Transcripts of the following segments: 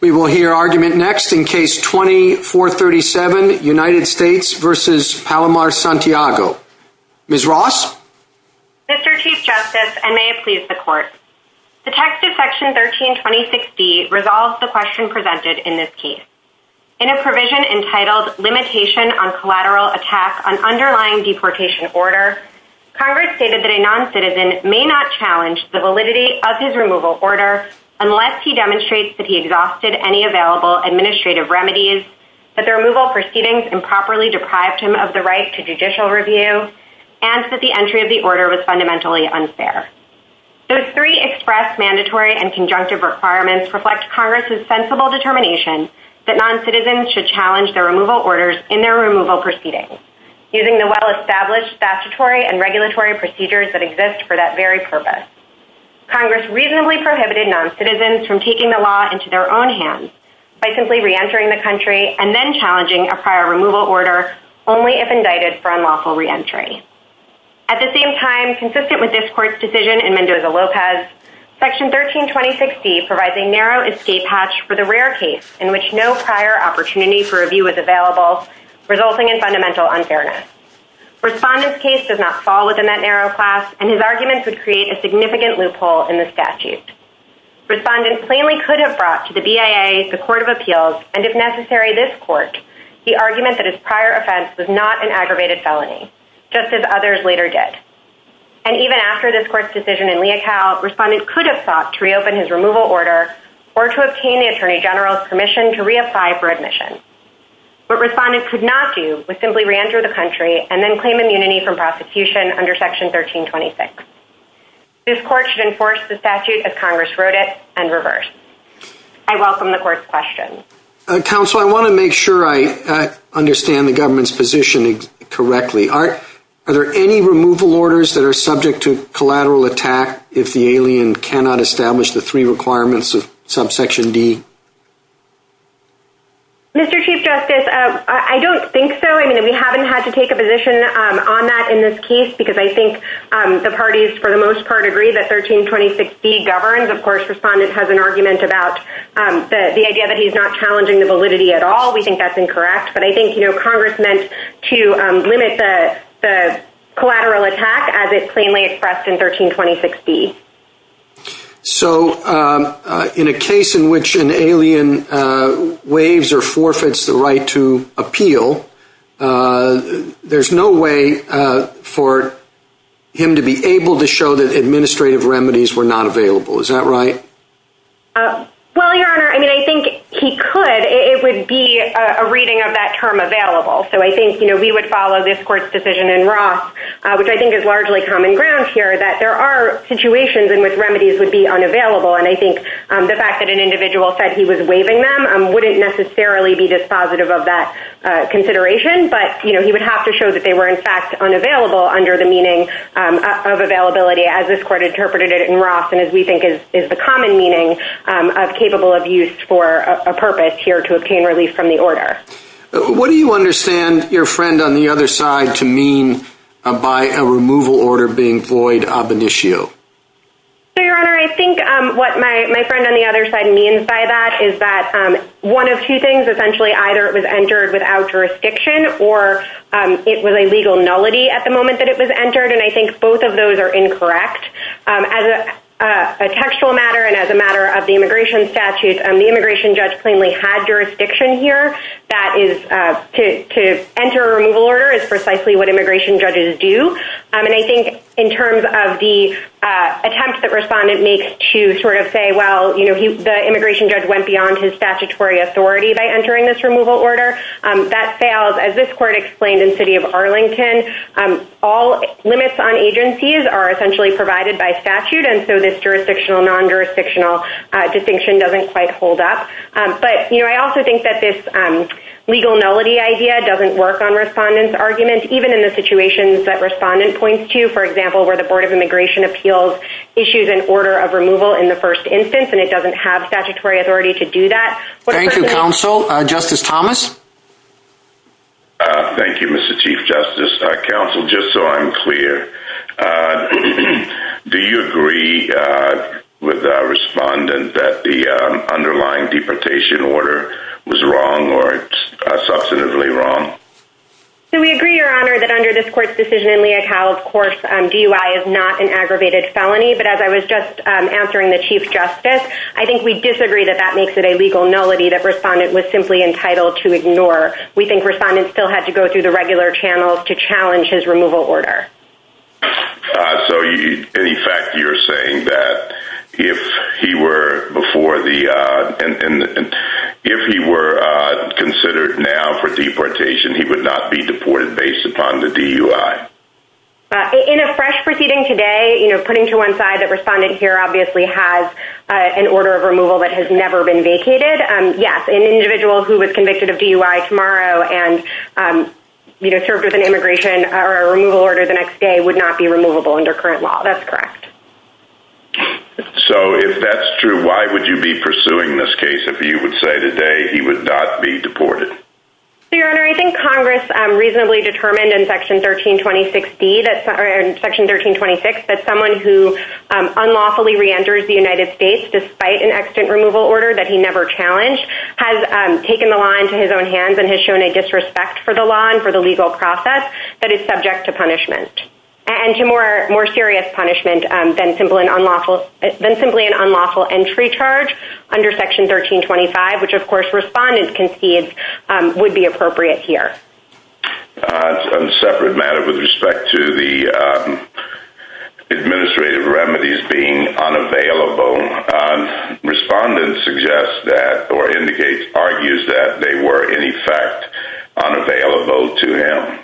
We will hear argument next in case 2437 United States v. Palomar-Santiago. Ms. Ross. Mr. Chief Justice, and may it please the Court, Detective Section 13-2060 resolves the question presented in this case. In a provision entitled Limitation on Collateral Attack on Underlying Deportation Order, Congress stated that a non-citizen may not challenge the validity of his removal order unless he demonstrates that he exhausted any available administrative remedies, that the removal proceedings improperly deprived him of the right to judicial review, and that the entry of the order was fundamentally unfair. Those three expressed mandatory and conjunctive requirements reflect Congress's sensible determination that non-citizens should challenge their removal orders in their removal proceedings using the well-established statutory and regulatory procedures that exist for that very purpose. Congress reasonably prohibited non-citizens from taking the law into their own hands by simply re-entering the country and then challenging a prior removal order only if indicted for unlawful re-entry. At the same time, consistent with this Court's decision in Mendoza-Lopez, Section 13-2060 provides a narrow escape hatch for the rare case in which no prior opportunity for review was available, resulting in fundamental unfairness. Respondent's case does not fall within that narrow class, and his arguments would create a significant loophole in the statute. Respondent plainly could have brought to the BIA, the Court of Appeals, and if necessary, this Court, the argument that his prior offense was not an aggravated felony, just as others later did. And even after this Court's decision in Leocal, Respondent could have sought to reopen his removal order or to obtain the Attorney General's permission to reapply for admission. What Respondent could not do was simply re-enter the country and then claim immunity from this Court should enforce the statute as Congress wrote it and reverse. I welcome the Court's questions. Counsel, I want to make sure I understand the government's position correctly. Are there any removal orders that are subject to collateral attack if the alien cannot establish the three requirements of Subsection D? Mr. Chief Justice, I don't think so. I mean, we haven't had to take a position on that in this case because I think the parties, for the most part, agree that 1326B governs. Of course, Respondent has an argument about the idea that he's not challenging the validity at all. We think that's incorrect. But I think Congress meant to limit the collateral attack as it plainly expressed in 1326B. So in a case in which an alien waives or forfeits the right to appeal, there's no way for him to be able to show that administrative remedies were not available. Is that right? Well, Your Honor, I mean, I think he could. It would be a reading of that term available. So I think, you know, we would follow this Court's decision in Roth, which I think is largely common ground here, that there are situations in which wouldn't necessarily be dispositive of that consideration. But, you know, he would have to show that they were in fact unavailable under the meaning of availability as this Court interpreted it in Roth and as we think is the common meaning of capable of use for a purpose here to obtain relief from the order. What do you understand your friend on the other side to mean by a removal order being void ab initio? So, Your Honor, I think what my friend on the other side means by that is that one of two things, essentially, either it was entered without jurisdiction or it was a legal nullity at the moment that it was entered. And I think both of those are incorrect. As a textual matter and as a matter of the immigration statute, the immigration judge plainly had jurisdiction here. That is to enter a removal order is precisely what immigration attempts that respondent makes to sort of say, well, you know, the immigration judge went beyond his statutory authority by entering this removal order. That fails, as this Court explained in City of Arlington, all limits on agencies are essentially provided by statute. And so this jurisdictional, non-jurisdictional distinction doesn't quite hold up. But, you know, I also think that this legal nullity idea doesn't work on respondent's argument, even in the situations that respondent points to, for example, where the Board of Immigration Appeals issues an order of removal in the first instance, and it doesn't have statutory authority to do that. Thank you, Counsel. Justice Thomas. Thank you, Mr. Chief Justice. Counsel, just so I'm clear, do you agree with the respondent that the underlying deportation order was wrong or substantively wrong? So we agree, Your Honor, that under this Court's decision in Leocal, of course, DUI is not an aggravated felony. But as I was just answering the Chief Justice, I think we disagree that that makes it a legal nullity that respondent was simply entitled to ignore. We think respondents still had to go through the regular channels to challenge his removal order. So, in effect, you're saying that if he were before the, and if he were considered now for deportation, he would not be deported based upon the DUI? In a fresh proceeding today, you know, putting to one side that respondent here obviously has an order of removal that has never been vacated. Yes, an individual who was convicted of DUI tomorrow and, you know, served with an immigration or a removal order the next day would not be removable under current law. That's correct. So if that's true, why would you be pursuing this case if you would say today he would not be deported? Your Honor, I think Congress reasonably determined in Section 1326B that, or in Section 1326, that someone who unlawfully reenters the United States despite an extant removal order that he never challenged has taken the law into his own hands and has shown a disrespect for the law and for the legal process that is subject to punishment. And to more serious punishment than simply an unlawful entry charge under Section 1325, which of course respondents concede would be appropriate here. On a separate matter with respect to the administrative remedies being unavailable, respondents suggest that, or indicate, argues that they were in effect unavailable to him.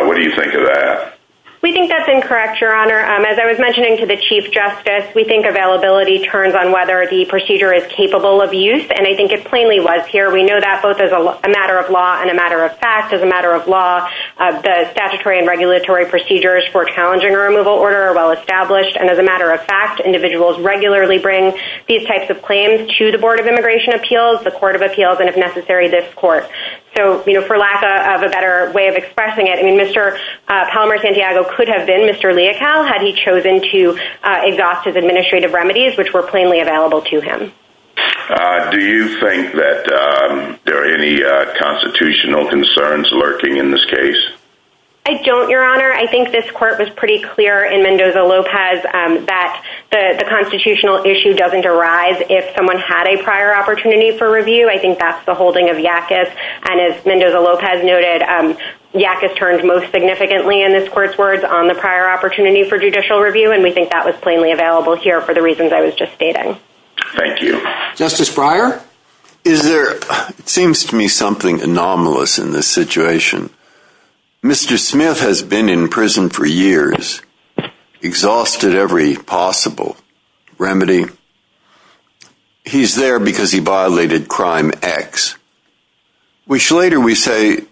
What do you think of that? We think that's incorrect, Your Honor. As I was mentioning to the Chief Justice, we think availability turns on whether the procedure is capable of use. And I think it plainly was here. We know that both as a matter of law and a matter of fact. As a matter of law, the statutory and regulatory procedures for challenging a removal order are well established. And as a matter of fact, individuals regularly bring these types of claims to the Board of Immigration Appeals, the Court of Appeals, and if necessary, this court. So for lack of a better way of expressing it, Mr. Palomar Santiago could have been Mr. Leocal had he chosen to exhaust his administrative remedies, which were available to him. Do you think that there are any constitutional concerns lurking in this case? I don't, Your Honor. I think this court was pretty clear in Mendoza-Lopez that the constitutional issue doesn't arise if someone had a prior opportunity for review. I think that's the holding of Yackas. And as Mendoza-Lopez noted, Yackas turned most significantly, in this court's words, on the prior opportunity for judicial Thank you. Justice Breyer? Is there, it seems to me, something anomalous in this situation. Mr. Smith has been in prison for years, exhausted every possible remedy. He's there because he violated Crime X, which later we say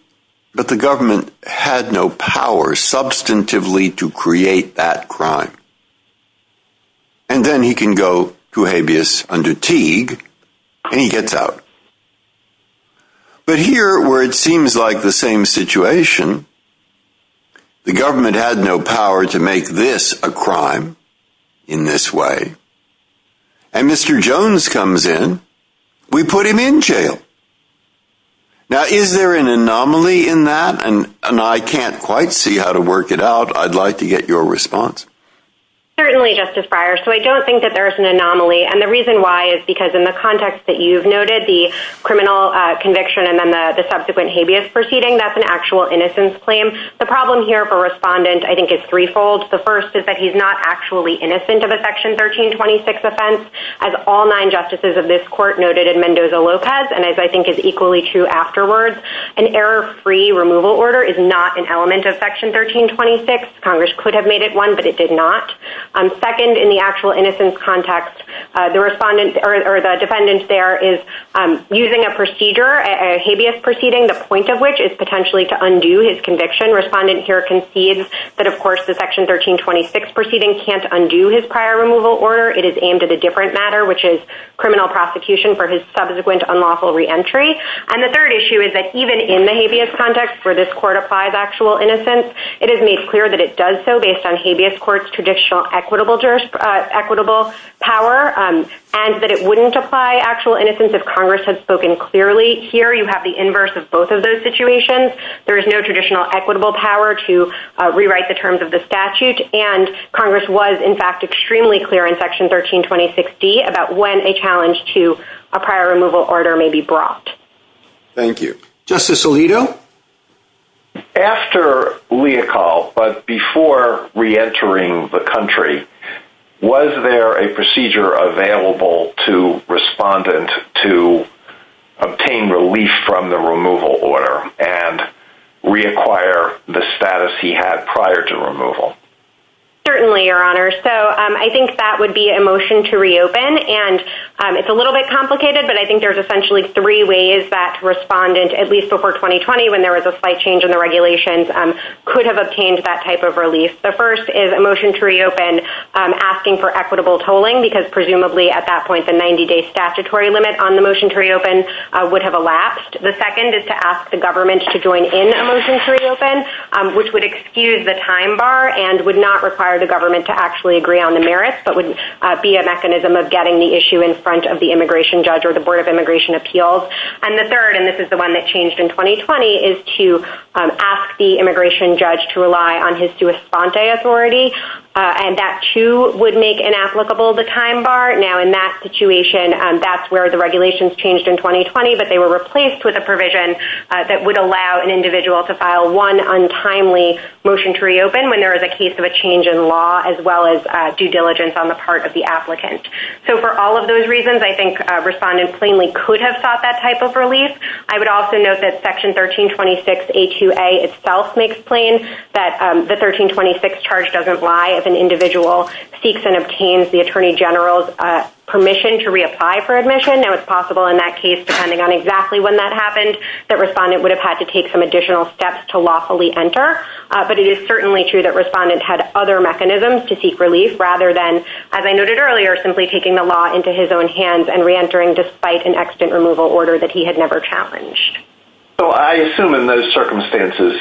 that the government had no power substantively to create that crime. And then he can go to habeas undertig, and he gets out. But here, where it seems like the same situation, the government had no power to make this a crime in this way. And Mr. Jones comes in, we put him in jail. Now, is there an anomaly in that? And I can't quite see how to work it out. I'd like to get your response. Certainly, Justice Breyer. So I don't think that there's an anomaly. And the reason why is because in the context that you've noted, the criminal conviction and then the subsequent habeas proceeding, that's an actual innocence claim. The problem here for Respondent, I think, is threefold. The first is that he's not actually innocent of a Section 1326 offense, as all nine justices of this court noted in Mendoza-Lopez. And as I think is equally true afterwards, an error-free removal order is not an element of Section 1326. Congress could have made it one, but it did not. Second, in the actual innocence context, the defendant there is using a procedure, a habeas proceeding, the point of which is potentially to undo his conviction. Respondent here concedes that, of course, the Section 1326 proceeding can't undo his prior removal order. It is aimed at a different matter, which is reentry. And the third issue is that even in the habeas context, where this court applies actual innocence, it is made clear that it does so based on habeas court's traditional equitable power, and that it wouldn't apply actual innocence if Congress had spoken clearly. Here, you have the inverse of both of those situations. There is no traditional equitable power to rewrite the terms of the statute. And Congress was, in fact, extremely clear in Section 1326D about when a challenge to a prior removal order may be brought. Thank you. Justice Alito? After Leocal, but before reentering the country, was there a procedure available to respondent to obtain relief from the removal order and reacquire the status he had prior to removal? Certainly, Your Honor. So I think that would be a motion to reopen. And it's a little bit complicated, but I think there's essentially three ways that respondent, at least before 2020, when there was a slight change in the regulations, could have obtained that type of relief. The first is a motion to reopen asking for equitable tolling, because presumably at that point, the 90-day statutory limit on the motion to reopen would have elapsed. The second is to join in a motion to reopen, which would excuse the time bar and would not require the government to actually agree on the merits, but would be a mechanism of getting the issue in front of the immigration judge or the Board of Immigration Appeals. And the third, and this is the one that changed in 2020, is to ask the immigration judge to rely on his sua sponte authority. And that, too, would make inapplicable the time bar. Now, in that situation, that's where the regulations changed in 2020, but they were replaced with a provision that would allow an individual to file one untimely motion to reopen when there is a case of a change in law, as well as due diligence on the part of the applicant. So for all of those reasons, I think respondents plainly could have sought that type of relief. I would also note that Section 1326A2A itself makes plain that the 1326 charge doesn't lie if an individual seeks and obtains the Attorney General's permission to reapply for admission. Now, it's possible in that case, depending on exactly when that happened, that respondent would have had to take some additional steps to lawfully enter. But it is certainly true that respondents had other mechanisms to seek relief, rather than, as I noted earlier, simply taking the law into his own hands and reentering despite an extant removal order that he had never challenged. So I assume in those circumstances,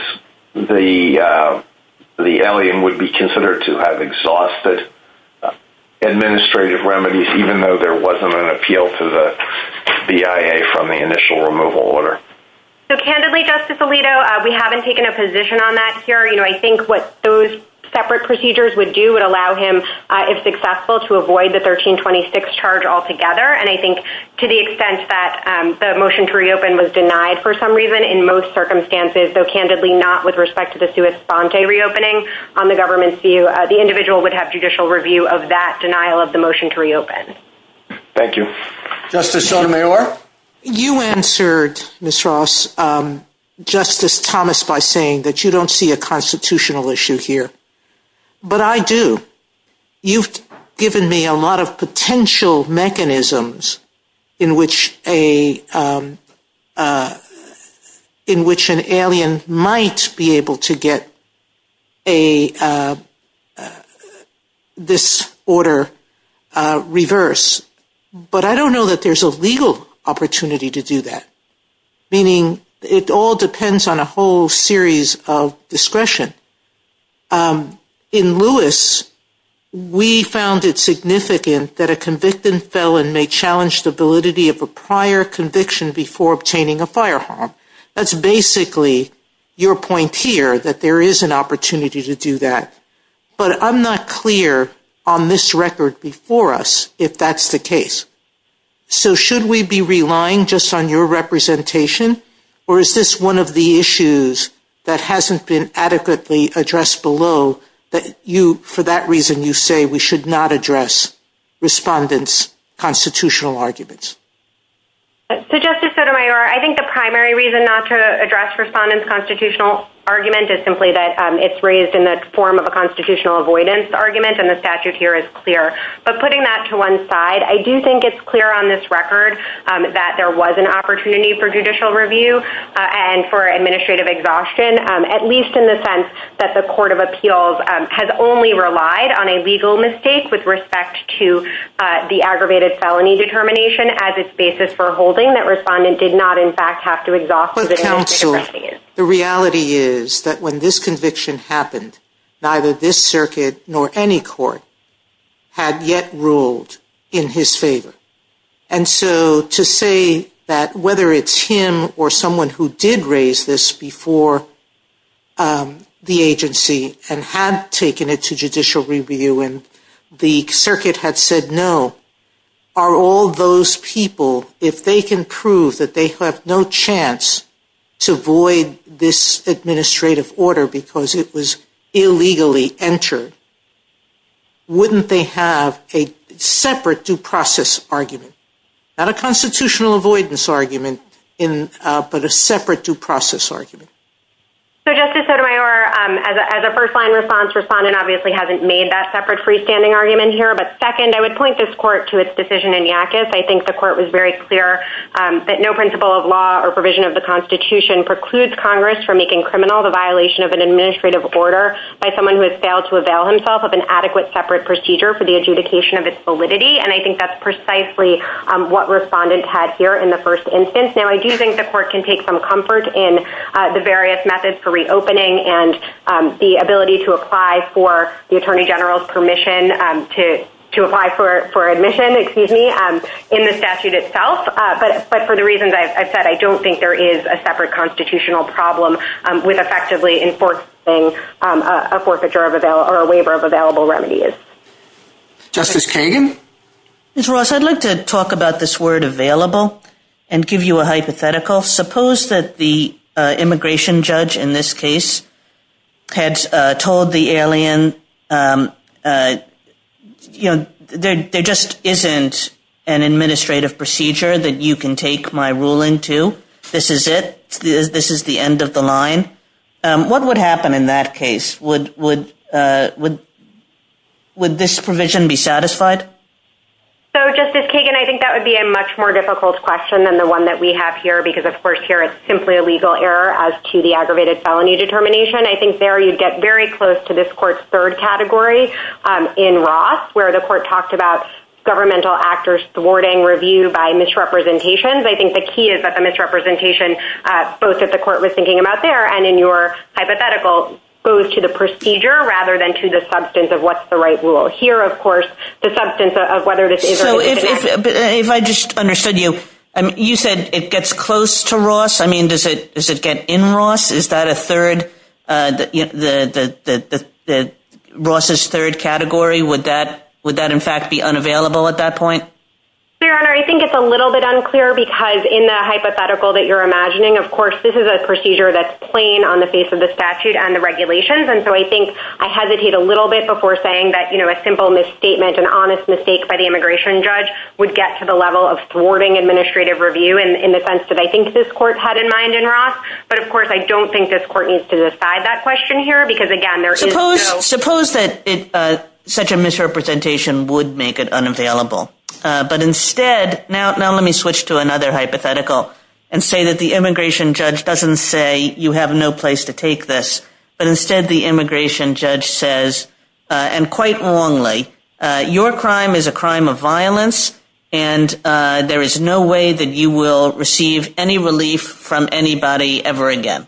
the alien would be considered to have exhausted administrative remedies, even though there wasn't an appeal to the BIA from the initial removal order. So candidly, Justice Alito, we haven't taken a position on that here. You know, I think what those separate procedures would do would allow him, if successful, to avoid the 1326 charge altogether. And I think to the extent that the motion to reopen was denied for some reason, in most circumstances, though candidly not with respect to the sua sponte reopening on the government's view, the individual would have judicial review of that denial of the motion to reopen. Thank you. Justice Sotomayor. You answered, Ms. Ross, Justice Thomas by saying that you don't see a constitutional issue here. But I do. You've given me a lot of potential to say this order reverse. But I don't know that there's a legal opportunity to do that, meaning it all depends on a whole series of discretion. In Lewis, we found it significant that a convicted felon may challenge the validity of a prior conviction before obtaining a fire warrant. That's basically your point here, that there is an opportunity to do that. But I'm not clear on this record before us if that's the case. So should we be relying just on your representation? Or is this one of the issues that hasn't been adequately addressed below that you, for that reason, you say we should not address respondents' constitutional arguments? So Justice Sotomayor, I think the primary reason not to address respondents' constitutional argument is simply that it's raised in the form of a constitutional avoidance argument. And the statute here is clear. But putting that to one side, I do think it's clear on this record that there was an opportunity for judicial review and for administrative exhaustion, at least in the sense that the Court of Appeals has only relied on a legal mistake with respect to the aggravated felony determination as its basis for holding, that respondent did not in fact have to exhaust. But counsel, the reality is that when this conviction happened, neither this circuit nor any court had yet ruled in his favor. And so to say that whether it's him or someone who did raise this before the agency and had taken it to judicial review and the circuit had said no, are all those people, if they can prove that they have no chance to void this administrative order because it was illegally entered, wouldn't they have a separate due process argument? Not a constitutional avoidance argument, but a separate due process argument. So Justice Sotomayor, as a first-line response, respondent obviously hasn't made that separate freestanding argument here. But second, I would point this court to its decision in Yakis. I think the court was very clear that no principle of law or provision of the Constitution precludes Congress from making criminal the violation of an administrative order by someone who has failed to avail himself of an adequate separate procedure for the adjudication of its validity. And I think that's precisely what respondent had here in the first instance. Now, I do think the court can take some comfort in the various methods for reopening and the ability to apply for the to apply for admission, excuse me, in the statute itself. But for the reasons I've said, I don't think there is a separate constitutional problem with effectively enforcing a forfeiture of or a waiver of available remedies. Justice Kagan? Ms. Ross, I'd like to talk about this word available and give you a hypothetical. Suppose that the immigration judge in this case had told the alien, you know, there just isn't an administrative procedure that you can take my ruling to. This is it. This is the end of the line. What would happen in that case? Would would this provision be satisfied? So Justice Kagan, I think that would be a much more difficult question than the one that we have here. Because of course, here, it's simply a legal error as to aggravated felony determination. I think there, you'd get very close to this court's third category in Ross, where the court talked about governmental actors thwarting review by misrepresentations. I think the key is that the misrepresentation, both that the court was thinking about there and in your hypothetical, goes to the procedure rather than to the substance of what's the right rule. Here, of course, the substance of whether this is or is not. So if I just understood you, you said it gets close to Ross. I mean, does it does it get in Ross? Is that a third, Ross's third category? Would that in fact be unavailable at that point? Your Honor, I think it's a little bit unclear because in the hypothetical that you're imagining, of course, this is a procedure that's plain on the face of the statute and the regulations. And so I think I hesitate a little bit before saying that, you know, a simple misstatement, an honest mistake by the immigration judge would get to the level of thwarting administrative review in the sense that I think this court had in mind in Ross. But, of course, I don't think this court needs to decide that question here because, again, there is no... Suppose that such a misrepresentation would make it unavailable. But instead, now let me switch to another hypothetical and say that the immigration judge doesn't say you have no place to take this, but instead the immigration judge says, and quite wrongly, your crime is a crime of violence and there is no way that you will receive any relief from anybody ever again.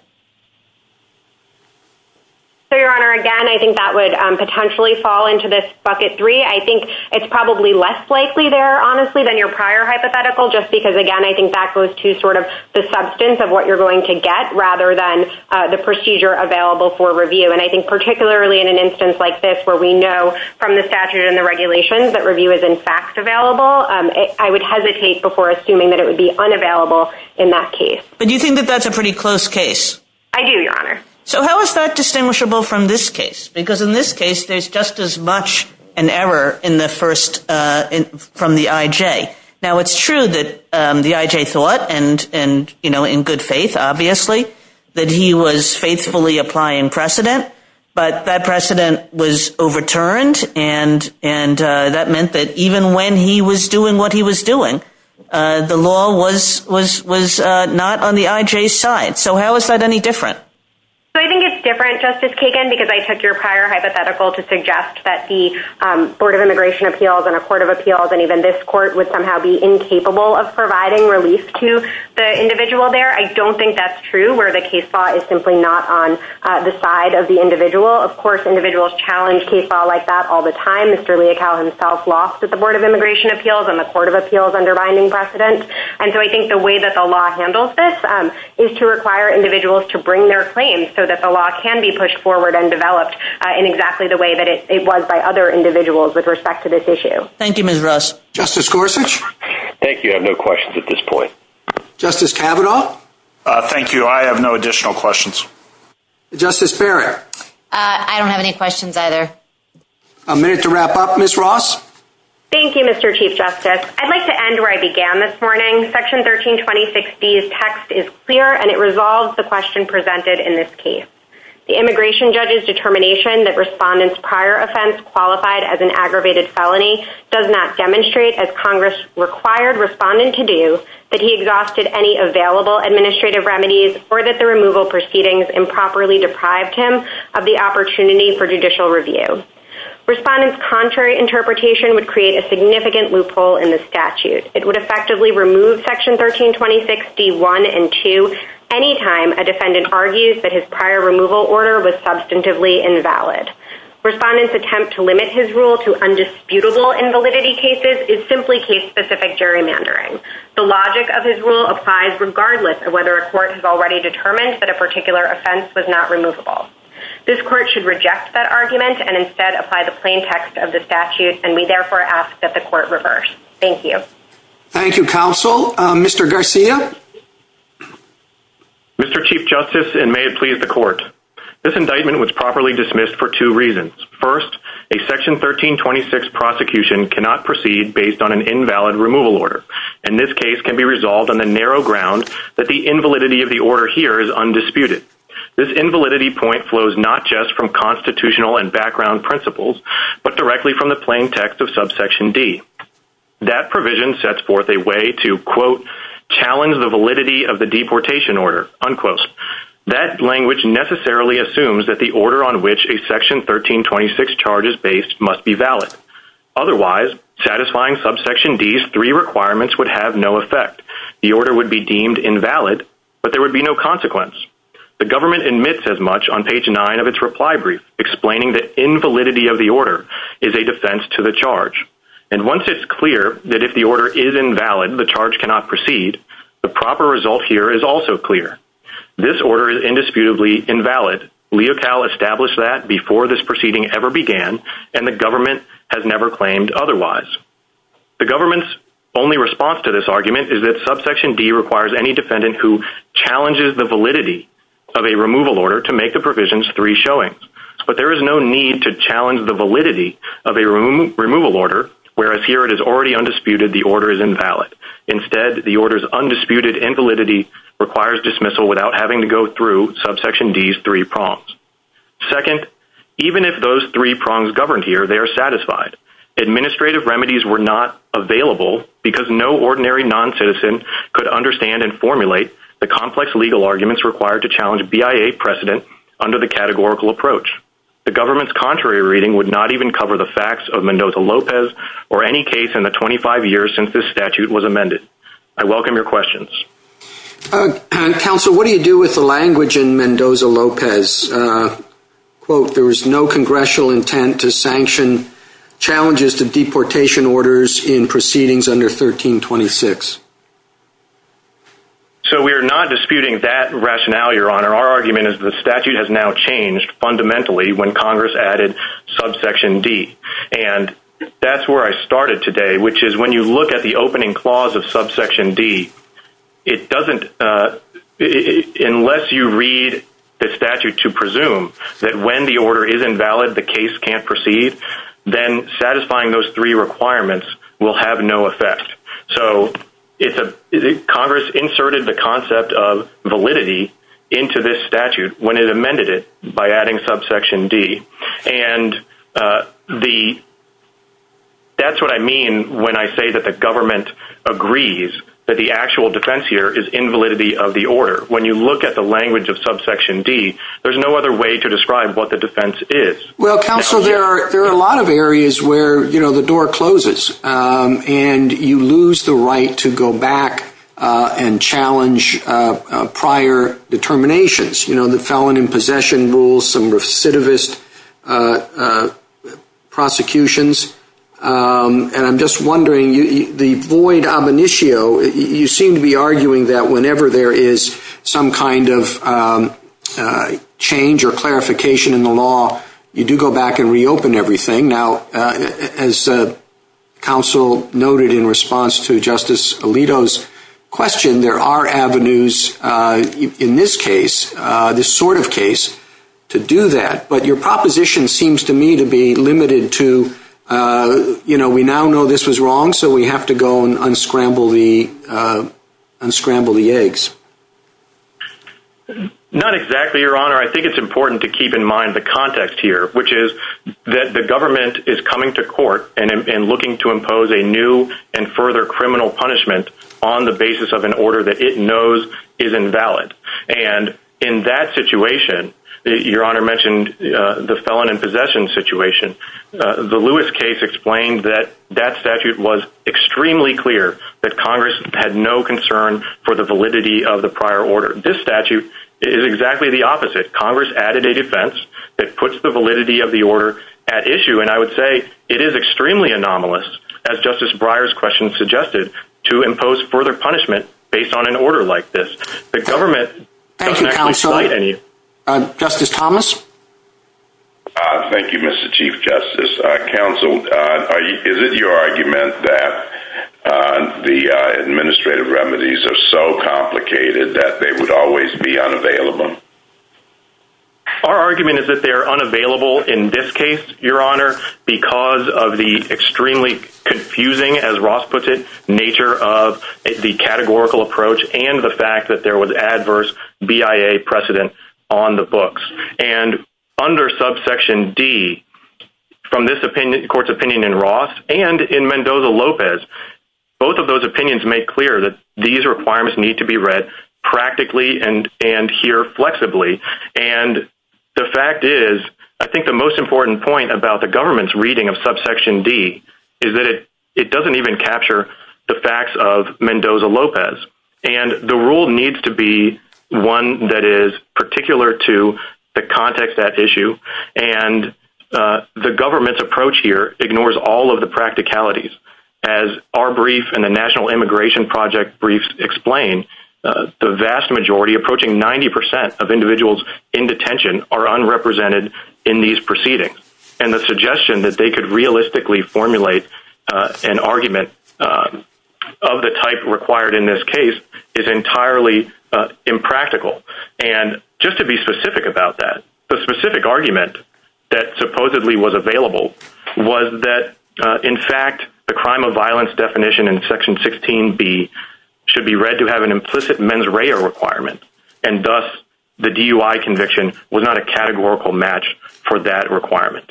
Your Honor, again, I think that would potentially fall into this bucket three. I think it's probably less likely there, honestly, than your prior hypothetical, just because, again, I think that goes to sort of the substance of what you're going to get rather than the procedure available for review. And I think particularly in an instance like this where we know from the statute and the regulations that review is, in fact, available, I would hesitate before assuming that it would be unavailable in that case. But you think that that's a pretty close case? I do, Your Honor. So how is that distinguishable from this case? Because in this case, there's just as much an error in the first, from the IJ. Now, it's true that the IJ thought, and in good faith, obviously, that he was faithfully applying precedent, but that precedent was overturned, and that meant that even when he was doing what he was doing, the law was not on the IJ's side. So how is that any different? So I think it's different, Justice Kagan, because I took your prior hypothetical to suggest that the Board of Immigration Appeals and a Court of Appeals and even this court would somehow be where the case law is simply not on the side of the individual. Of course, individuals challenge case law like that all the time. Mr. Leocal himself lost at the Board of Immigration Appeals and the Court of Appeals underbinding precedent. And so I think the way that the law handles this is to require individuals to bring their claims so that the law can be pushed forward and developed in exactly the way that it was by other individuals with respect to this issue. Thank you, Ms. Russ. Justice Gorsuch? Thank you. I have no questions at this point. Justice Kavanaugh? Thank you. I have no additional questions. Justice Barrett? I don't have any questions either. A minute to wrap up. Ms. Ross? Thank you, Mr. Chief Justice. I'd like to end where I began this morning. Section 1326B's text is clear and it resolves the question presented in this case. The immigration judge's determination that respondent's prior offense qualified as an aggravated felony does not demonstrate, as Congress required respondent to do, that he exhausted any available administrative remedies or that the removal proceedings improperly deprived him of the opportunity for judicial review. Respondent's contrary interpretation would create a significant loophole in the statute. It would effectively remove Section 1326D1 and 2 anytime a defendant argues that his prior removal order was substantively invalid. Respondent's attempt to limit his rule to undisputable invalidity cases is simply case-specific gerrymandering. The logic of his rule applies regardless of whether a court has already determined that a particular offense was not removable. This court should reject that argument and instead apply the plain text of the statute and we therefore ask that the court reverse. Thank you. Thank you, counsel. Mr. Garcia? Mr. Chief Justice, and may it please the court. This indictment was properly dismissed for two cannot proceed based on an invalid removal order. And this case can be resolved on the narrow ground that the invalidity of the order here is undisputed. This invalidity point flows not just from constitutional and background principles, but directly from the plain text of subsection D. That provision sets forth a way to, quote, challenge the validity of the deportation order, unquote. That language necessarily assumes that the order on which a section 1326 charge is based must be valid. Otherwise, satisfying subsection D's three requirements would have no effect. The order would be deemed invalid, but there would be no consequence. The government admits as much on page nine of its reply brief, explaining the invalidity of the order is a defense to the charge. And once it's clear that if the order is invalid, the charge cannot proceed, the proper result here is also clear. This order is before this proceeding ever began, and the government has never claimed otherwise. The government's only response to this argument is that subsection D requires any defendant who challenges the validity of a removal order to make the provisions three showings. But there is no need to challenge the validity of a removal order, whereas here it is already undisputed, the order is invalid. Instead, the order's undisputed invalidity requires dismissal without having to go through subsection D's three prongs. Second, even if those three prongs governed here, they are satisfied. Administrative remedies were not available because no ordinary non-citizen could understand and formulate the complex legal arguments required to challenge BIA precedent under the categorical approach. The government's contrary reading would not even cover the facts of Mendoza-Lopez or any case in the 25 years since this statute was amended. I welcome your questions. Counsel, what do you do with the language in Mendoza-Lopez? Quote, there was no congressional intent to sanction challenges to deportation orders in proceedings under 1326. So we are not disputing that rationale, Your Honor. Our argument is that the statute has now changed fundamentally when Congress added subsection D. And that's where I started today, which is when you look at the opening clause of subsection D, it doesn't, unless you read the statute to presume that when the order is invalid, the case can't proceed, then satisfying those three requirements will have no effect. So Congress inserted the concept of validity into this statute when it amended it by adding subsection D. And that's what I mean when I say that the government agrees that the actual defense here is invalidity of the order. When you look at the language of subsection D, there's no other way to describe what the defense is. Well, Counsel, there are a lot of areas where the door closes and you lose the right to go back and challenge prior determinations. You know, the felon in possession rules, some recidivist prosecutions. And I'm just wondering, the void ab initio, you seem to be arguing that whenever there is some kind of change or clarification in the law, you do go back and reopen everything. Now, as Counsel noted in response to Justice Alito's question, there are avenues in this case, this sort of case, to do that. But your proposition seems to me to be limited to, you know, we now know this was wrong, so we have to go and unscramble the eggs. Not exactly, Your Honor. I think it's important to keep in mind the context here, which is that the government is coming to court and looking to impose a new and further criminal punishment on the basis of an order that it knows is invalid. And in that situation, Your Honor mentioned the felon in possession situation. The Lewis case explained that that statute was extremely clear that Congress had no concern for the validity of the prior order. This statute is exactly the opposite. Congress added a defense that puts the validity of the order at issue. And I would say it is extremely anomalous, as Justice Breyer's question suggested, to impose further punishment based on an order like this. The government- Thank you, Counsel. Justice Thomas? Thank you, Mr. Chief Justice. Counsel, is it your argument that the administrative remedies are so complicated that they would always be unavailable? Our argument is that they're unavailable in this case, Your Honor, because of the extremely confusing, as Ross puts it, nature of the categorical approach and the fact that there was adverse BIA precedent on the books. And under subsection D, from this court's opinion in Ross and in Mendoza-Lopez, both of those opinions make clear that these requirements need to be read practically and here flexibly. And the fact is, I think the most important point about the it doesn't even capture the facts of Mendoza-Lopez. And the rule needs to be one that is particular to the context at issue. And the government's approach here ignores all of the practicalities. As our brief and the National Immigration Project briefs explain, the vast majority, approaching 90% of individuals in detention are unrepresented in these proceedings. And the suggestion that they could realistically formulate an argument of the type required in this case is entirely impractical. And just to be specific about that, the specific argument that supposedly was available was that, in fact, the crime of violence definition in section 16B should be read to have an implicit mens rea requirement. And thus, the DUI conviction was not a categorical match for that requirement.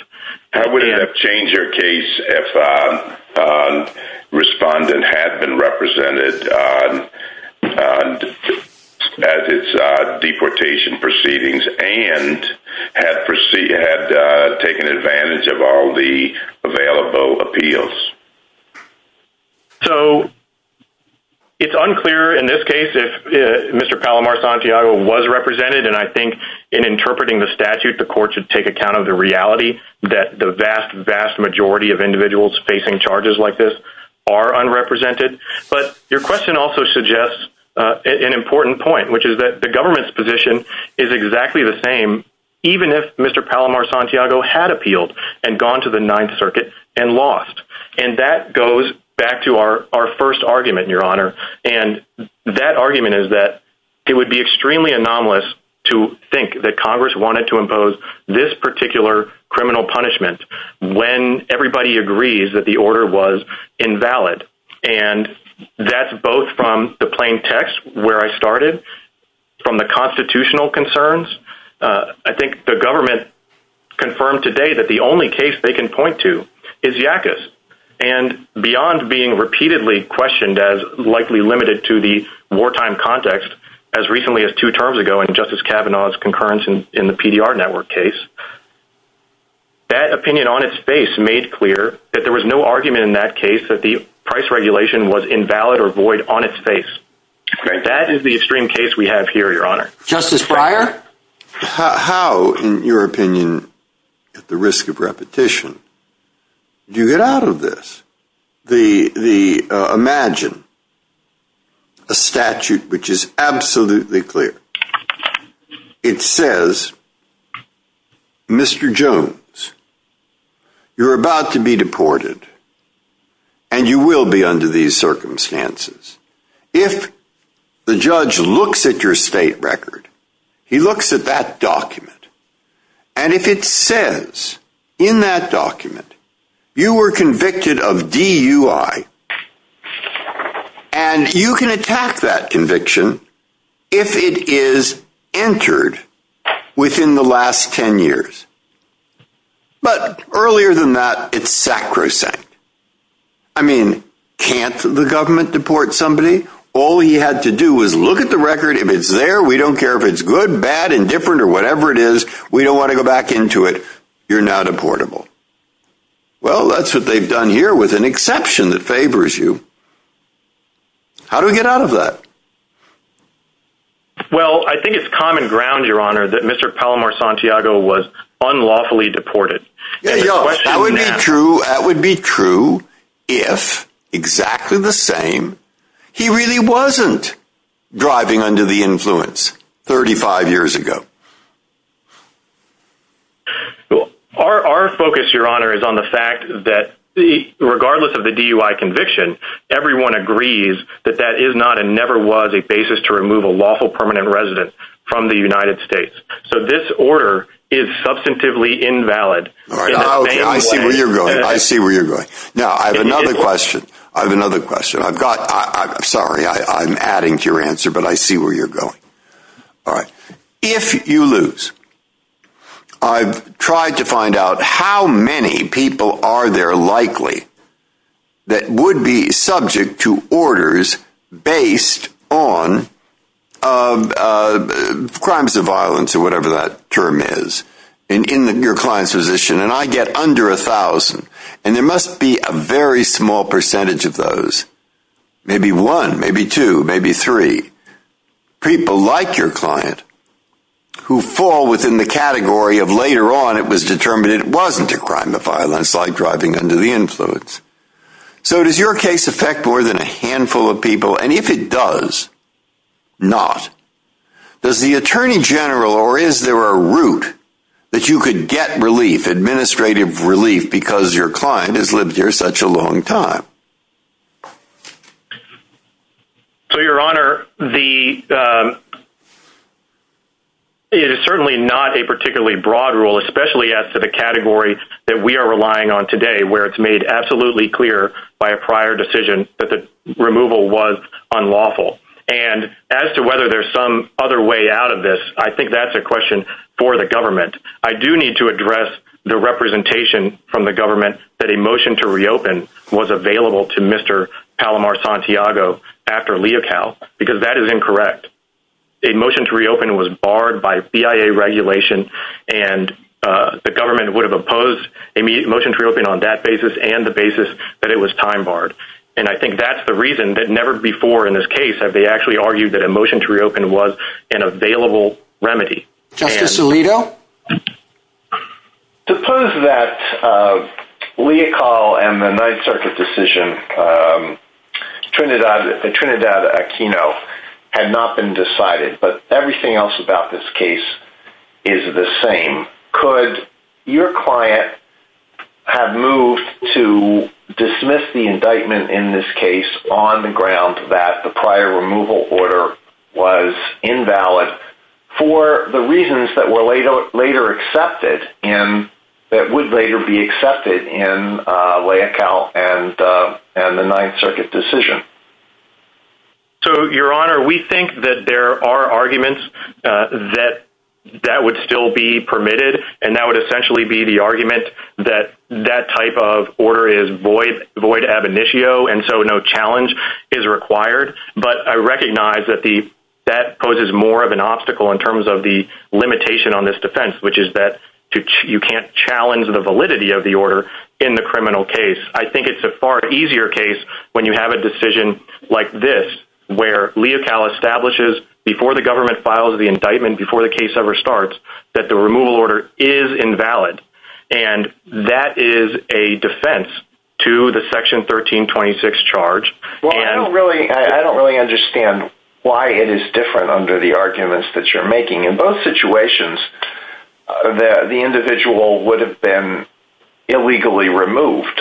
How would it have changed your case if a respondent had been represented at its deportation proceedings and had taken advantage of all the available appeals? So it's unclear in this case if Mr. Palomar Santiago was represented. And I think in interpreting the statute, the court should take account of the reality that the vast, vast majority of individuals facing charges like this are unrepresented. But your question also suggests an important point, which is that the government's position is exactly the same, even if Mr. Palomar Santiago had appealed and gone to the Ninth Circuit and lost. And that goes back to our first argument, Your Honor. And that argument is that it would be that Congress wanted to impose this particular criminal punishment when everybody agrees that the order was invalid. And that's both from the plain text, where I started, from the constitutional concerns. I think the government confirmed today that the only case they can point to is Yackas. And beyond being repeatedly questioned as likely limited to the in the PDR network case, that opinion on its face made clear that there was no argument in that case that the price regulation was invalid or void on its face. That is the extreme case we have here, Your Honor. Justice Breyer? How, in your opinion, at the risk of repetition, do you get out of this? The, the, uh, imagine a statute which is absolutely clear. It says, Mr. Jones, you're about to be deported and you will be under these circumstances. If the judge looks at your state record, he looks at that document. And if it says in that document, you were convicted of DUI and you can attack that conviction if it is entered within the last 10 years. But earlier than that, it's sacrosanct. I mean, can't the government deport somebody? All he had to do was look at the record. If it's there, we don't care if it's good, bad, indifferent, or whatever it is. We don't want to go back into it. You're now deportable. Well, that's what they've done here with an exception that favors you. How do we get out of that? Well, I think it's common ground, Your Honor, that Mr. Palomar Santiago was unlawfully deported. That would be true. That would be true if, exactly the same, he really wasn't driving under the influence 35 years ago. Our focus, Your Honor, is on the fact that regardless of the DUI conviction, everyone agrees that that is not and never was a basis to remove a lawful permanent resident from the United States. So this order is substantively invalid. I see where you're going. I see where you're going. Now, I have another question. I have another question. Sorry, I'm adding to your answer, but I see where you're going. All right. If you lose, I've tried to find out how many people are there likely that would be subject to orders based on crimes of violence or whatever that term is in your client's position, and I get under 1,000, and there must be a very small percentage of those, maybe one, maybe two, maybe three, people like your client who fall within the category of later on it was determined it wasn't a crime of violence like driving under the influence. So does your case affect more than a handful of people? And if it does, not. Does the Attorney General or is there a route that you could get relief, administrative relief, because your client has lived here such a long time? So, Your Honor, it is certainly not a particularly broad rule, especially as to the category that we are relying on today where it's made absolutely clear by a prior decision that the out of this. I think that's a question for the government. I do need to address the representation from the government that a motion to reopen was available to Mr. Palomar Santiago after Leocal because that is incorrect. A motion to reopen was barred by BIA regulation, and the government would have opposed a motion to reopen on that basis and the basis that it was time barred. And I think that's the reason that never before in this case have they actually argued that a available remedy. Justice Alito? Suppose that Leocal and the Ninth Circuit decision, Trinidad Aquino, had not been decided, but everything else about this case is the same. Could your client have moved to dismiss the invalid for the reasons that would later be accepted in Leocal and the Ninth Circuit decision? So, Your Honor, we think that there are arguments that would still be permitted, and that would essentially be the argument that that type of order is void ab initio, and so no challenge is required. But I recognize that that poses more of an obstacle in terms of the limitation on this defense, which is that you can't challenge the validity of the order in the criminal case. I think it's a far easier case when you have a decision like this, where Leocal establishes before the government files the indictment, before the case ever starts, that the removal order is invalid, and that is a defense to the Section 1326 charge. Well, I don't really understand why it is different under the arguments that you're making. In both situations, the individual would have been illegally removed.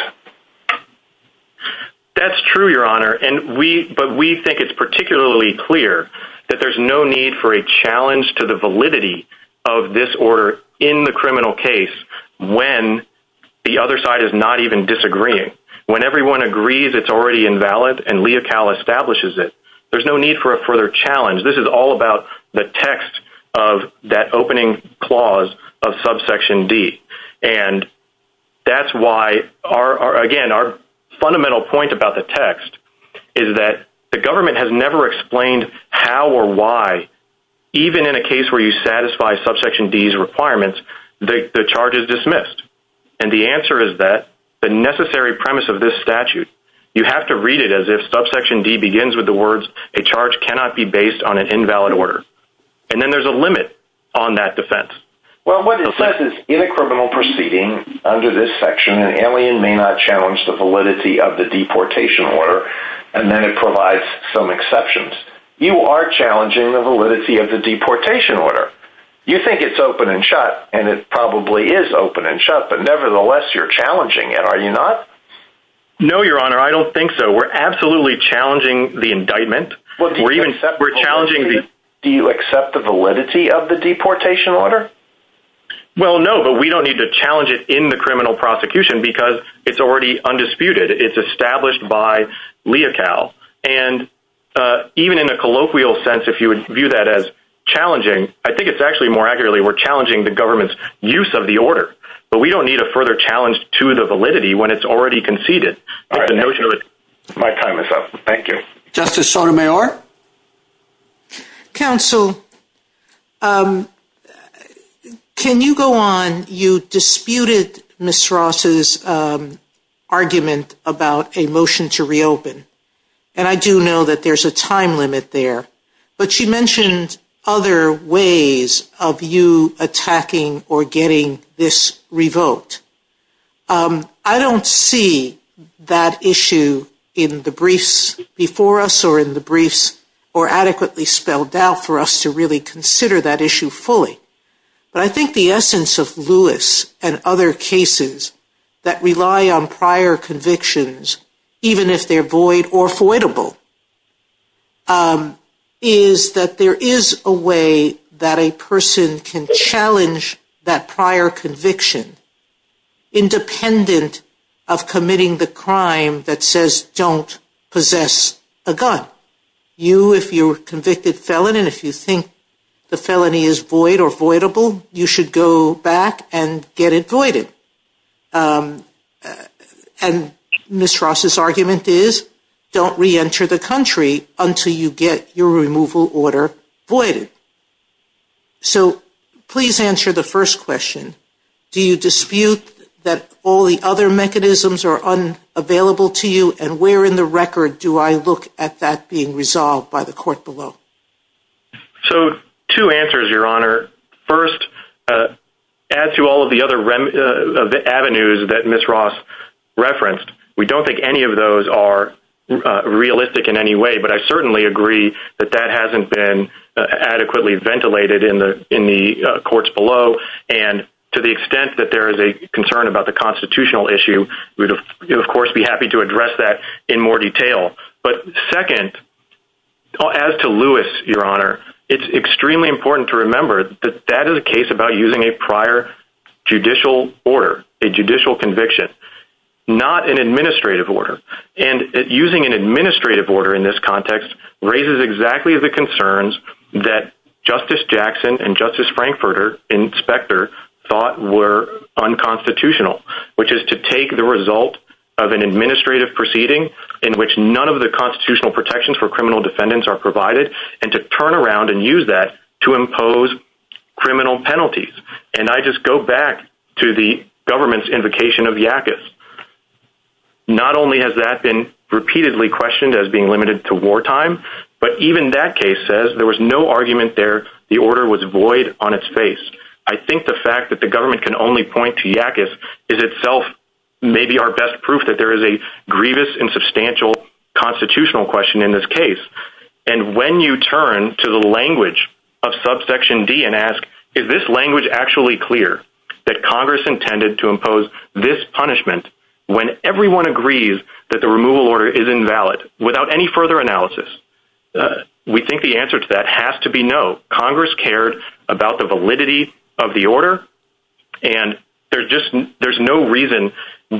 That's true, Your Honor, but we think it's particularly clear that there's no need for a challenge to the validity of this order in the criminal case when the other side is not even disagreeing. When everyone agrees it's already invalid and Leocal establishes it, there's no need for a further challenge. This is all about the text of that opening clause of Subsection D, and that's why, again, our fundamental point about the text is that the government has never explained how or why, even in a case where you satisfy Subsection D's requirements, the charge is dismissed. The answer is that the necessary premise of this statute, you have to read it as if Subsection D begins with the words, a charge cannot be based on an invalid order. Then there's a limit on that defense. Well, what it says is, in a criminal proceeding under this section, an alien may not challenge the validity of the deportation order, and then it provides some exceptions. You are challenging the validity of the deportation order. You think it's open and shut, and it probably is open and shut, but nevertheless, you're challenging it, are you not? No, Your Honor, I don't think so. We're absolutely challenging the indictment. Do you accept the validity of the deportation order? Well, no, but we don't need to challenge it in the criminal prosecution because it's already undisputed. It's established by Leocal, and even in a colloquial sense, if you would view that as challenging, I think it's actually more accurately, we're challenging the government's use of the order, but we don't need a further challenge to the validity when it's already conceded. My time is up. Thank you. Justice Sotomayor? Counsel, can you go on? You disputed Ms. Ross's argument about a motion to reopen, and I do know that there's a time limit there, but she mentioned other ways of you attacking or getting this revoked. I don't see that issue in the briefs before us or in the briefs or adequately spelled out for us to really consider that issue fully, but I think the essence of Lewis and other cases that rely on prior convictions, even if they're void or voidable, is that there is a way that a person can challenge that prior conviction, independent of committing the crime that says, don't possess a gun. You, if you're a convicted felon, and if you think the felony is void or voidable, you should go back and get it voided. And Ms. Ross's argument is, don't reenter the country until you get your removal order voided. So please answer the first question. Do you dispute that all the other mechanisms are unavailable to you, and where in the record do I look at that being resolved by the court below? So two answers, Your Honor. First, as to all of the other avenues that Ms. Ross referenced, we don't think any of those are realistic in any way, but I certainly agree that that hasn't been adequately ventilated in the courts below. And to the extent that there is a concern about the constitutional issue, we'd of course be happy to address that in more detail. But second, as to Lewis, Your Honor, it's extremely important to remember that that is a case about using a prior judicial order, a judicial conviction, not an administrative order. And using an administrative order in this context raises exactly the concerns that Justice Jackson and Justice Frankfurter and Specter thought were unconstitutional, which is to take the result of an administrative proceeding in which none of the constitutional protections for criminal defendants are provided, and to turn around and use that to impose criminal penalties. And I just go back to the government's invocation of Yakis. Not only has that been repeatedly questioned as being limited to wartime, but even that case says there was no argument there, the order was void on its face. I think the fact that the government can only point to Yakis is itself maybe our best proof that there is a grievous and substantial constitutional question in this case. And when you turn to the language of subsection D and ask, is this language actually clear that Congress intended to impose this punishment when everyone agrees that the removal order is invalid without any further analysis? We think the answer to that has to be no. Congress cared about the validity of the order, and there's no reason,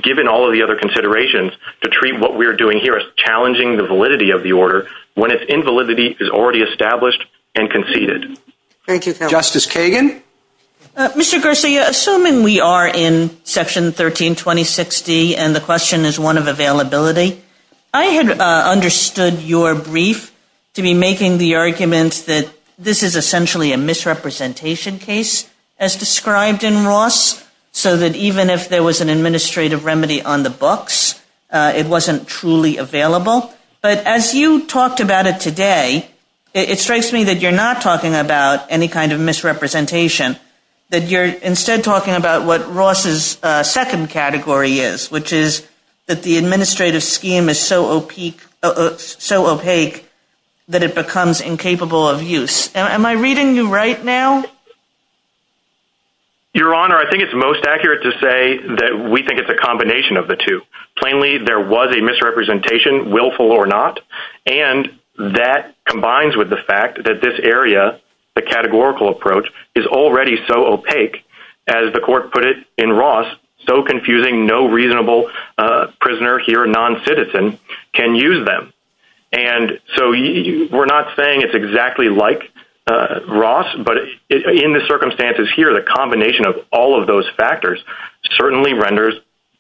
given all of the other considerations, to treat what we're doing here as challenging the validity of the order when its invalidity is already established and conceded. Thank you. Justice Kagan? Mr. Garcia, assuming we are in Section 1326D and the question is one of availability, I had understood your brief to be making the argument that this is essentially a misrepresentation case, as described in Ross, so that even if there was an administrative remedy on the books, it wasn't truly available. But as you talked about it today, it strikes me that you're not talking about any kind of misrepresentation, that you're instead talking about what Ross's second category is, which is that the administrative scheme is so opaque that it becomes incapable of use. Am I reading you right now? Your Honor, I think it's most accurate to say that we think it's a combination of the two. Plainly, there was a misrepresentation, willful or not, and that combines with the fact that this area, the categorical approach, is already so opaque, as the Court put it in Ross, so confusing, no reasonable prisoner here, non-citizen, can use them. And so we're not saying it's exactly like Ross, but in the circumstances here, the combination of all of those factors certainly renders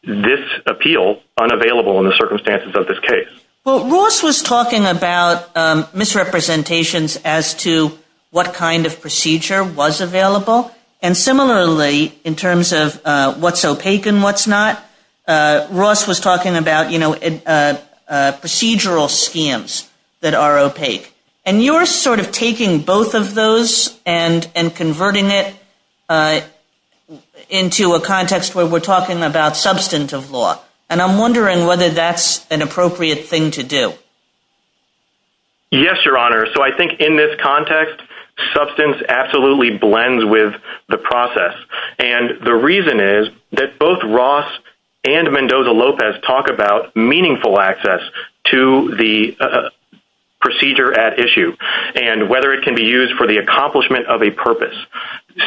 this appeal unavailable in the circumstances of this case. Well, Ross was talking about misrepresentations as to what kind of procedure was available. And similarly, in terms of what's opaque and what's not, Ross was talking about procedural schemes that are opaque. And you're sort of taking both of those and converting it into a context where we're talking about substantive law. And I'm wondering whether that's an appropriate thing to do. Yes, Your Honor. So I think in this context, substance absolutely blends with the process. And the reason is that both Ross and Mendoza-Lopez talk about meaningful access to the procedure at issue, and whether it can be used for the accomplishment of a purpose.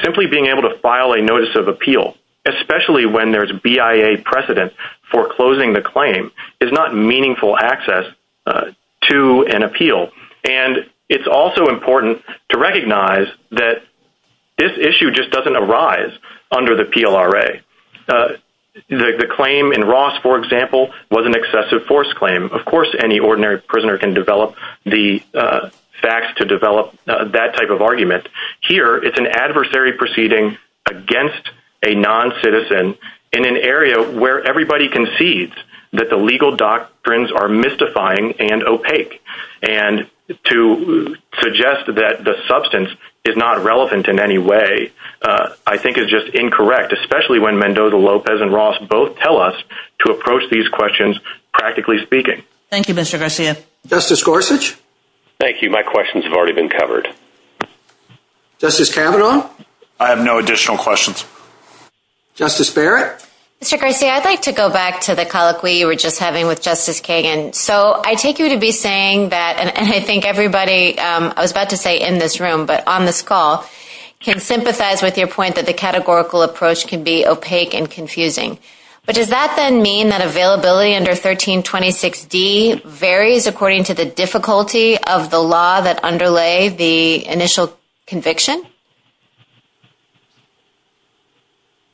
Simply being able to file a notice of appeal, especially when there's BIA precedent for closing the claim, is not meaningful access to an appeal. And it's also important to recognize that this issue just doesn't arise under the PLRA. The claim in Ross, for example, was an excessive force claim. Of course, any ordinary prisoner can develop the facts to develop that type of argument. Here, it's an adversary proceeding against a non-citizen in an area where everybody concedes that the legal doctrines are mystifying and opaque. And to suggest that the substance is not relevant in any way, I think is just incorrect, especially when Mendoza-Lopez and Ross both tell us to approach these questions practically speaking. Thank you, Mr. Garcia. Justice Gorsuch. Thank you. My questions have already been covered. Justice Kavanaugh. I have no additional questions. Justice Barrett. Mr. Garcia, I'd like to go back to the colloquy you were just having with Justice Kagan. So I take you to be saying that, and I think everybody, I was about to say in this room, but on this call, can sympathize with your point that the categorical approach can be opaque and confusing. But does that then mean that availability under 1326D varies according to the difficulty of the law that underlay the initial conviction?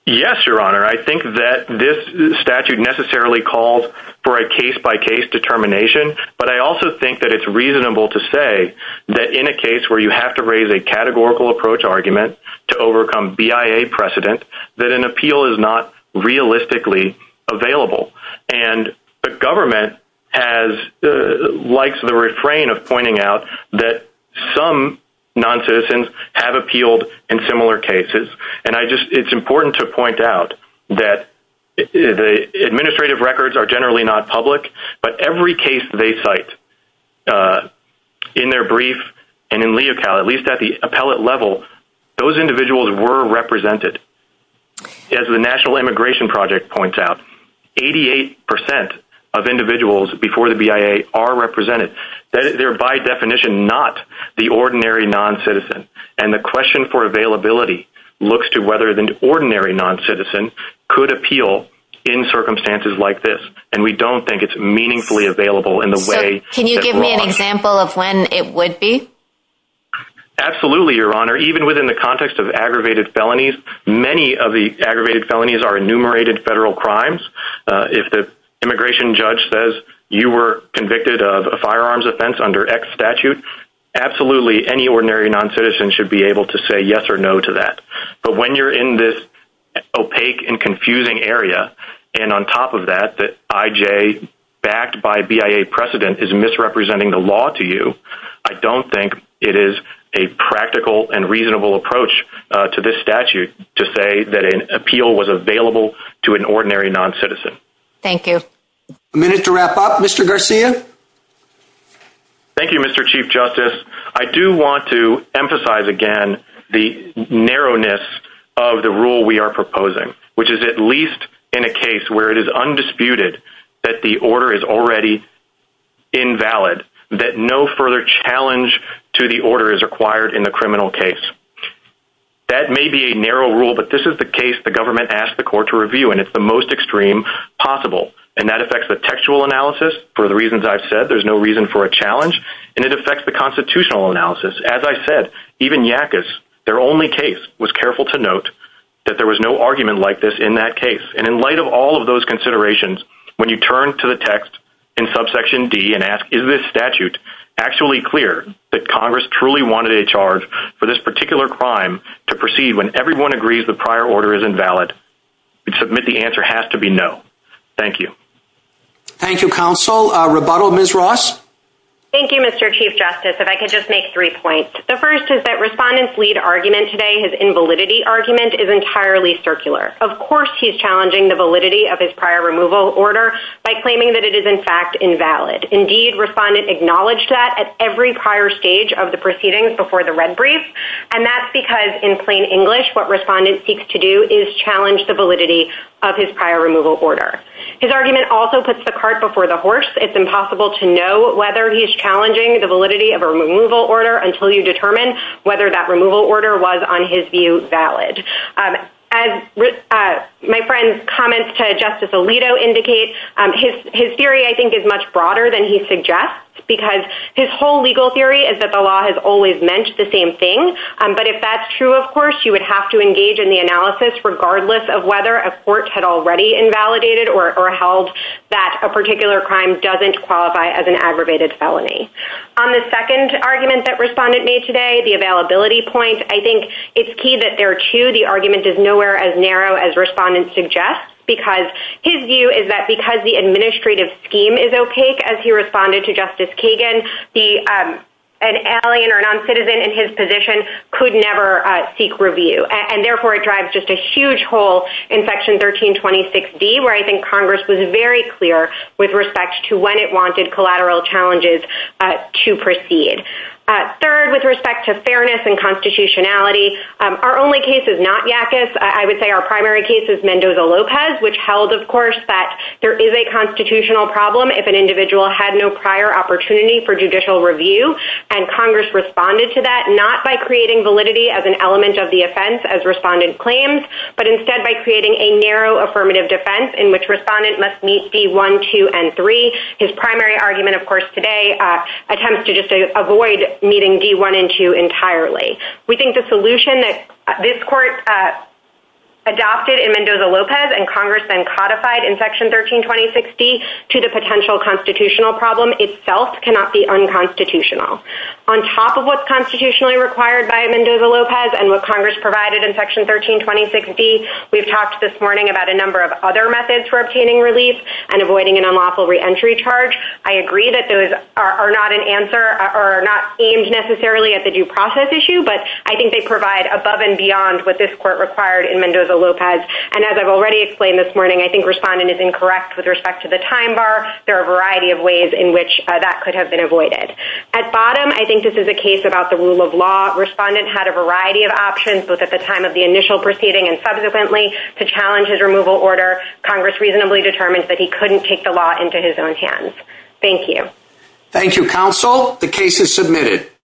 Yes, Your Honor. I think that this statute necessarily calls for a case-by-case determination, but I also think that it's reasonable to say that in a case where you have to raise a categorical approach argument to overcome BIA precedent, that an appeal is not realistically available. And the government has, likes the refrain of pointing out that some non-citizens have appealed in similar cases. And it's important to point out that the administrative records are generally not public, but every case they cite in their brief and in LEOCAL, at least at the appellate level, those individuals were represented. As the National Immigration Project points out, 88% of individuals before the BIA are represented. They're by definition not the ordinary non-citizen. And the question for availability looks to whether the ordinary non-citizen could appeal in circumstances like this. And we don't think it's meaningfully available in the way that we want. Can you give me an example of when it would be? Absolutely, Your Honor. Even within the context of aggravated felonies, many of the aggravated felonies are enumerated federal crimes. If the immigration judge says you were convicted of a firearms offense under X statute, absolutely any ordinary non-citizen should be able to say yes or no to that. But when you're in this opaque and confusing area, and on top of that, that IJ backed by BIA precedent is misrepresenting the law to you, I don't think it is a practical and reasonable approach to this statute to say that an appeal was available to an ordinary non-citizen. Thank you. A minute to wrap up, Mr. Garcia. Thank you, Mr. Chief Justice. I do want to emphasize again, the narrowness of the rule we are proposing, which is at least in a case where it is undisputed that the order is already invalid, that no further challenge to the order is required in the criminal case. That may be a narrow rule, but this is the case the government asked the court to review, and it's the most extreme possible. And that affects the textual analysis. For the reasons I've said, there's no reason for a challenge. And it affects the constitutional analysis. As I said, even Yackas, their only case was careful to note that there was no argument like this in that case. And in light of all of those considerations, when you turn to the text in subsection D and ask, is this statute actually clear that Congress truly wanted a charge for this particular crime to proceed when everyone agrees the prior order is invalid? We submit the answer has to be no. Thank you. Thank you, Counsel. Rebuttal, Ms. Ross. Thank you, Mr. Chief Justice. If I could just make three points. The first is that Respondent's lead argument today, his invalidity argument, is entirely circular. Of course, he's challenging the validity of his prior removal order by claiming that it is in fact invalid. Indeed, Respondent acknowledged that at every prior stage of the proceedings before the Red Brief. And that's because in plain English, what Respondent seeks to do is challenge the validity of his prior removal order. His argument also puts the cart before the horse. It's impossible to know whether he's challenging the validity of a removal order until you determine whether that removal order was, on his view, valid. As my friend's comments to Justice Alito indicate, his theory, I think, is much broader than he suggests. Because his whole legal theory is that the law has always meant the same thing. But if that's true, of course, you would have to engage in the analysis regardless of whether a court had already invalidated or held that a particular crime doesn't qualify as an aggravated felony. On the second argument that Respondent made today, the availability point, I think it's key that there, too, the argument is nowhere as narrow as Respondent suggests. Because his view is that because the administrative scheme is opaque, as he responded to Justice Kagan, an alien or noncitizen in his position could never seek review. And therefore, it drives just a huge hole in Section 1326D, where I think Congress was very clear with respect to when it wanted collateral challenges to proceed. Third, with respect to fairness and constitutionality, our only case is not Yakis. I would say our case is Mendoza-Lopez, which held, of course, that there is a constitutional problem if an individual had no prior opportunity for judicial review. And Congress responded to that not by creating validity as an element of the offense, as Respondent claims, but instead by creating a narrow affirmative defense in which Respondent must meet D1, 2, and 3. His primary argument, of course, today attempts to just avoid meeting D1 and 2 entirely. We think the solution that this court adopted in Mendoza-Lopez and Congress then codified in Section 1326D to the potential constitutional problem itself cannot be unconstitutional. On top of what's constitutionally required by Mendoza-Lopez and what Congress provided in Section 1326D, we've talked this morning about a number of other methods for obtaining relief and avoiding an unlawful reentry charge. I agree that those are not aimed necessarily at the due issue, but I think they provide above and beyond what this court required in Mendoza-Lopez. And as I've already explained this morning, I think Respondent is incorrect with respect to the time bar. There are a variety of ways in which that could have been avoided. At bottom, I think this is a case about the rule of law. Respondent had a variety of options, both at the time of the initial proceeding and subsequently, to challenge his removal order. Congress reasonably determined that he couldn't take the law into his own hands. Thank you. Thank you, Counsel. The case is submitted.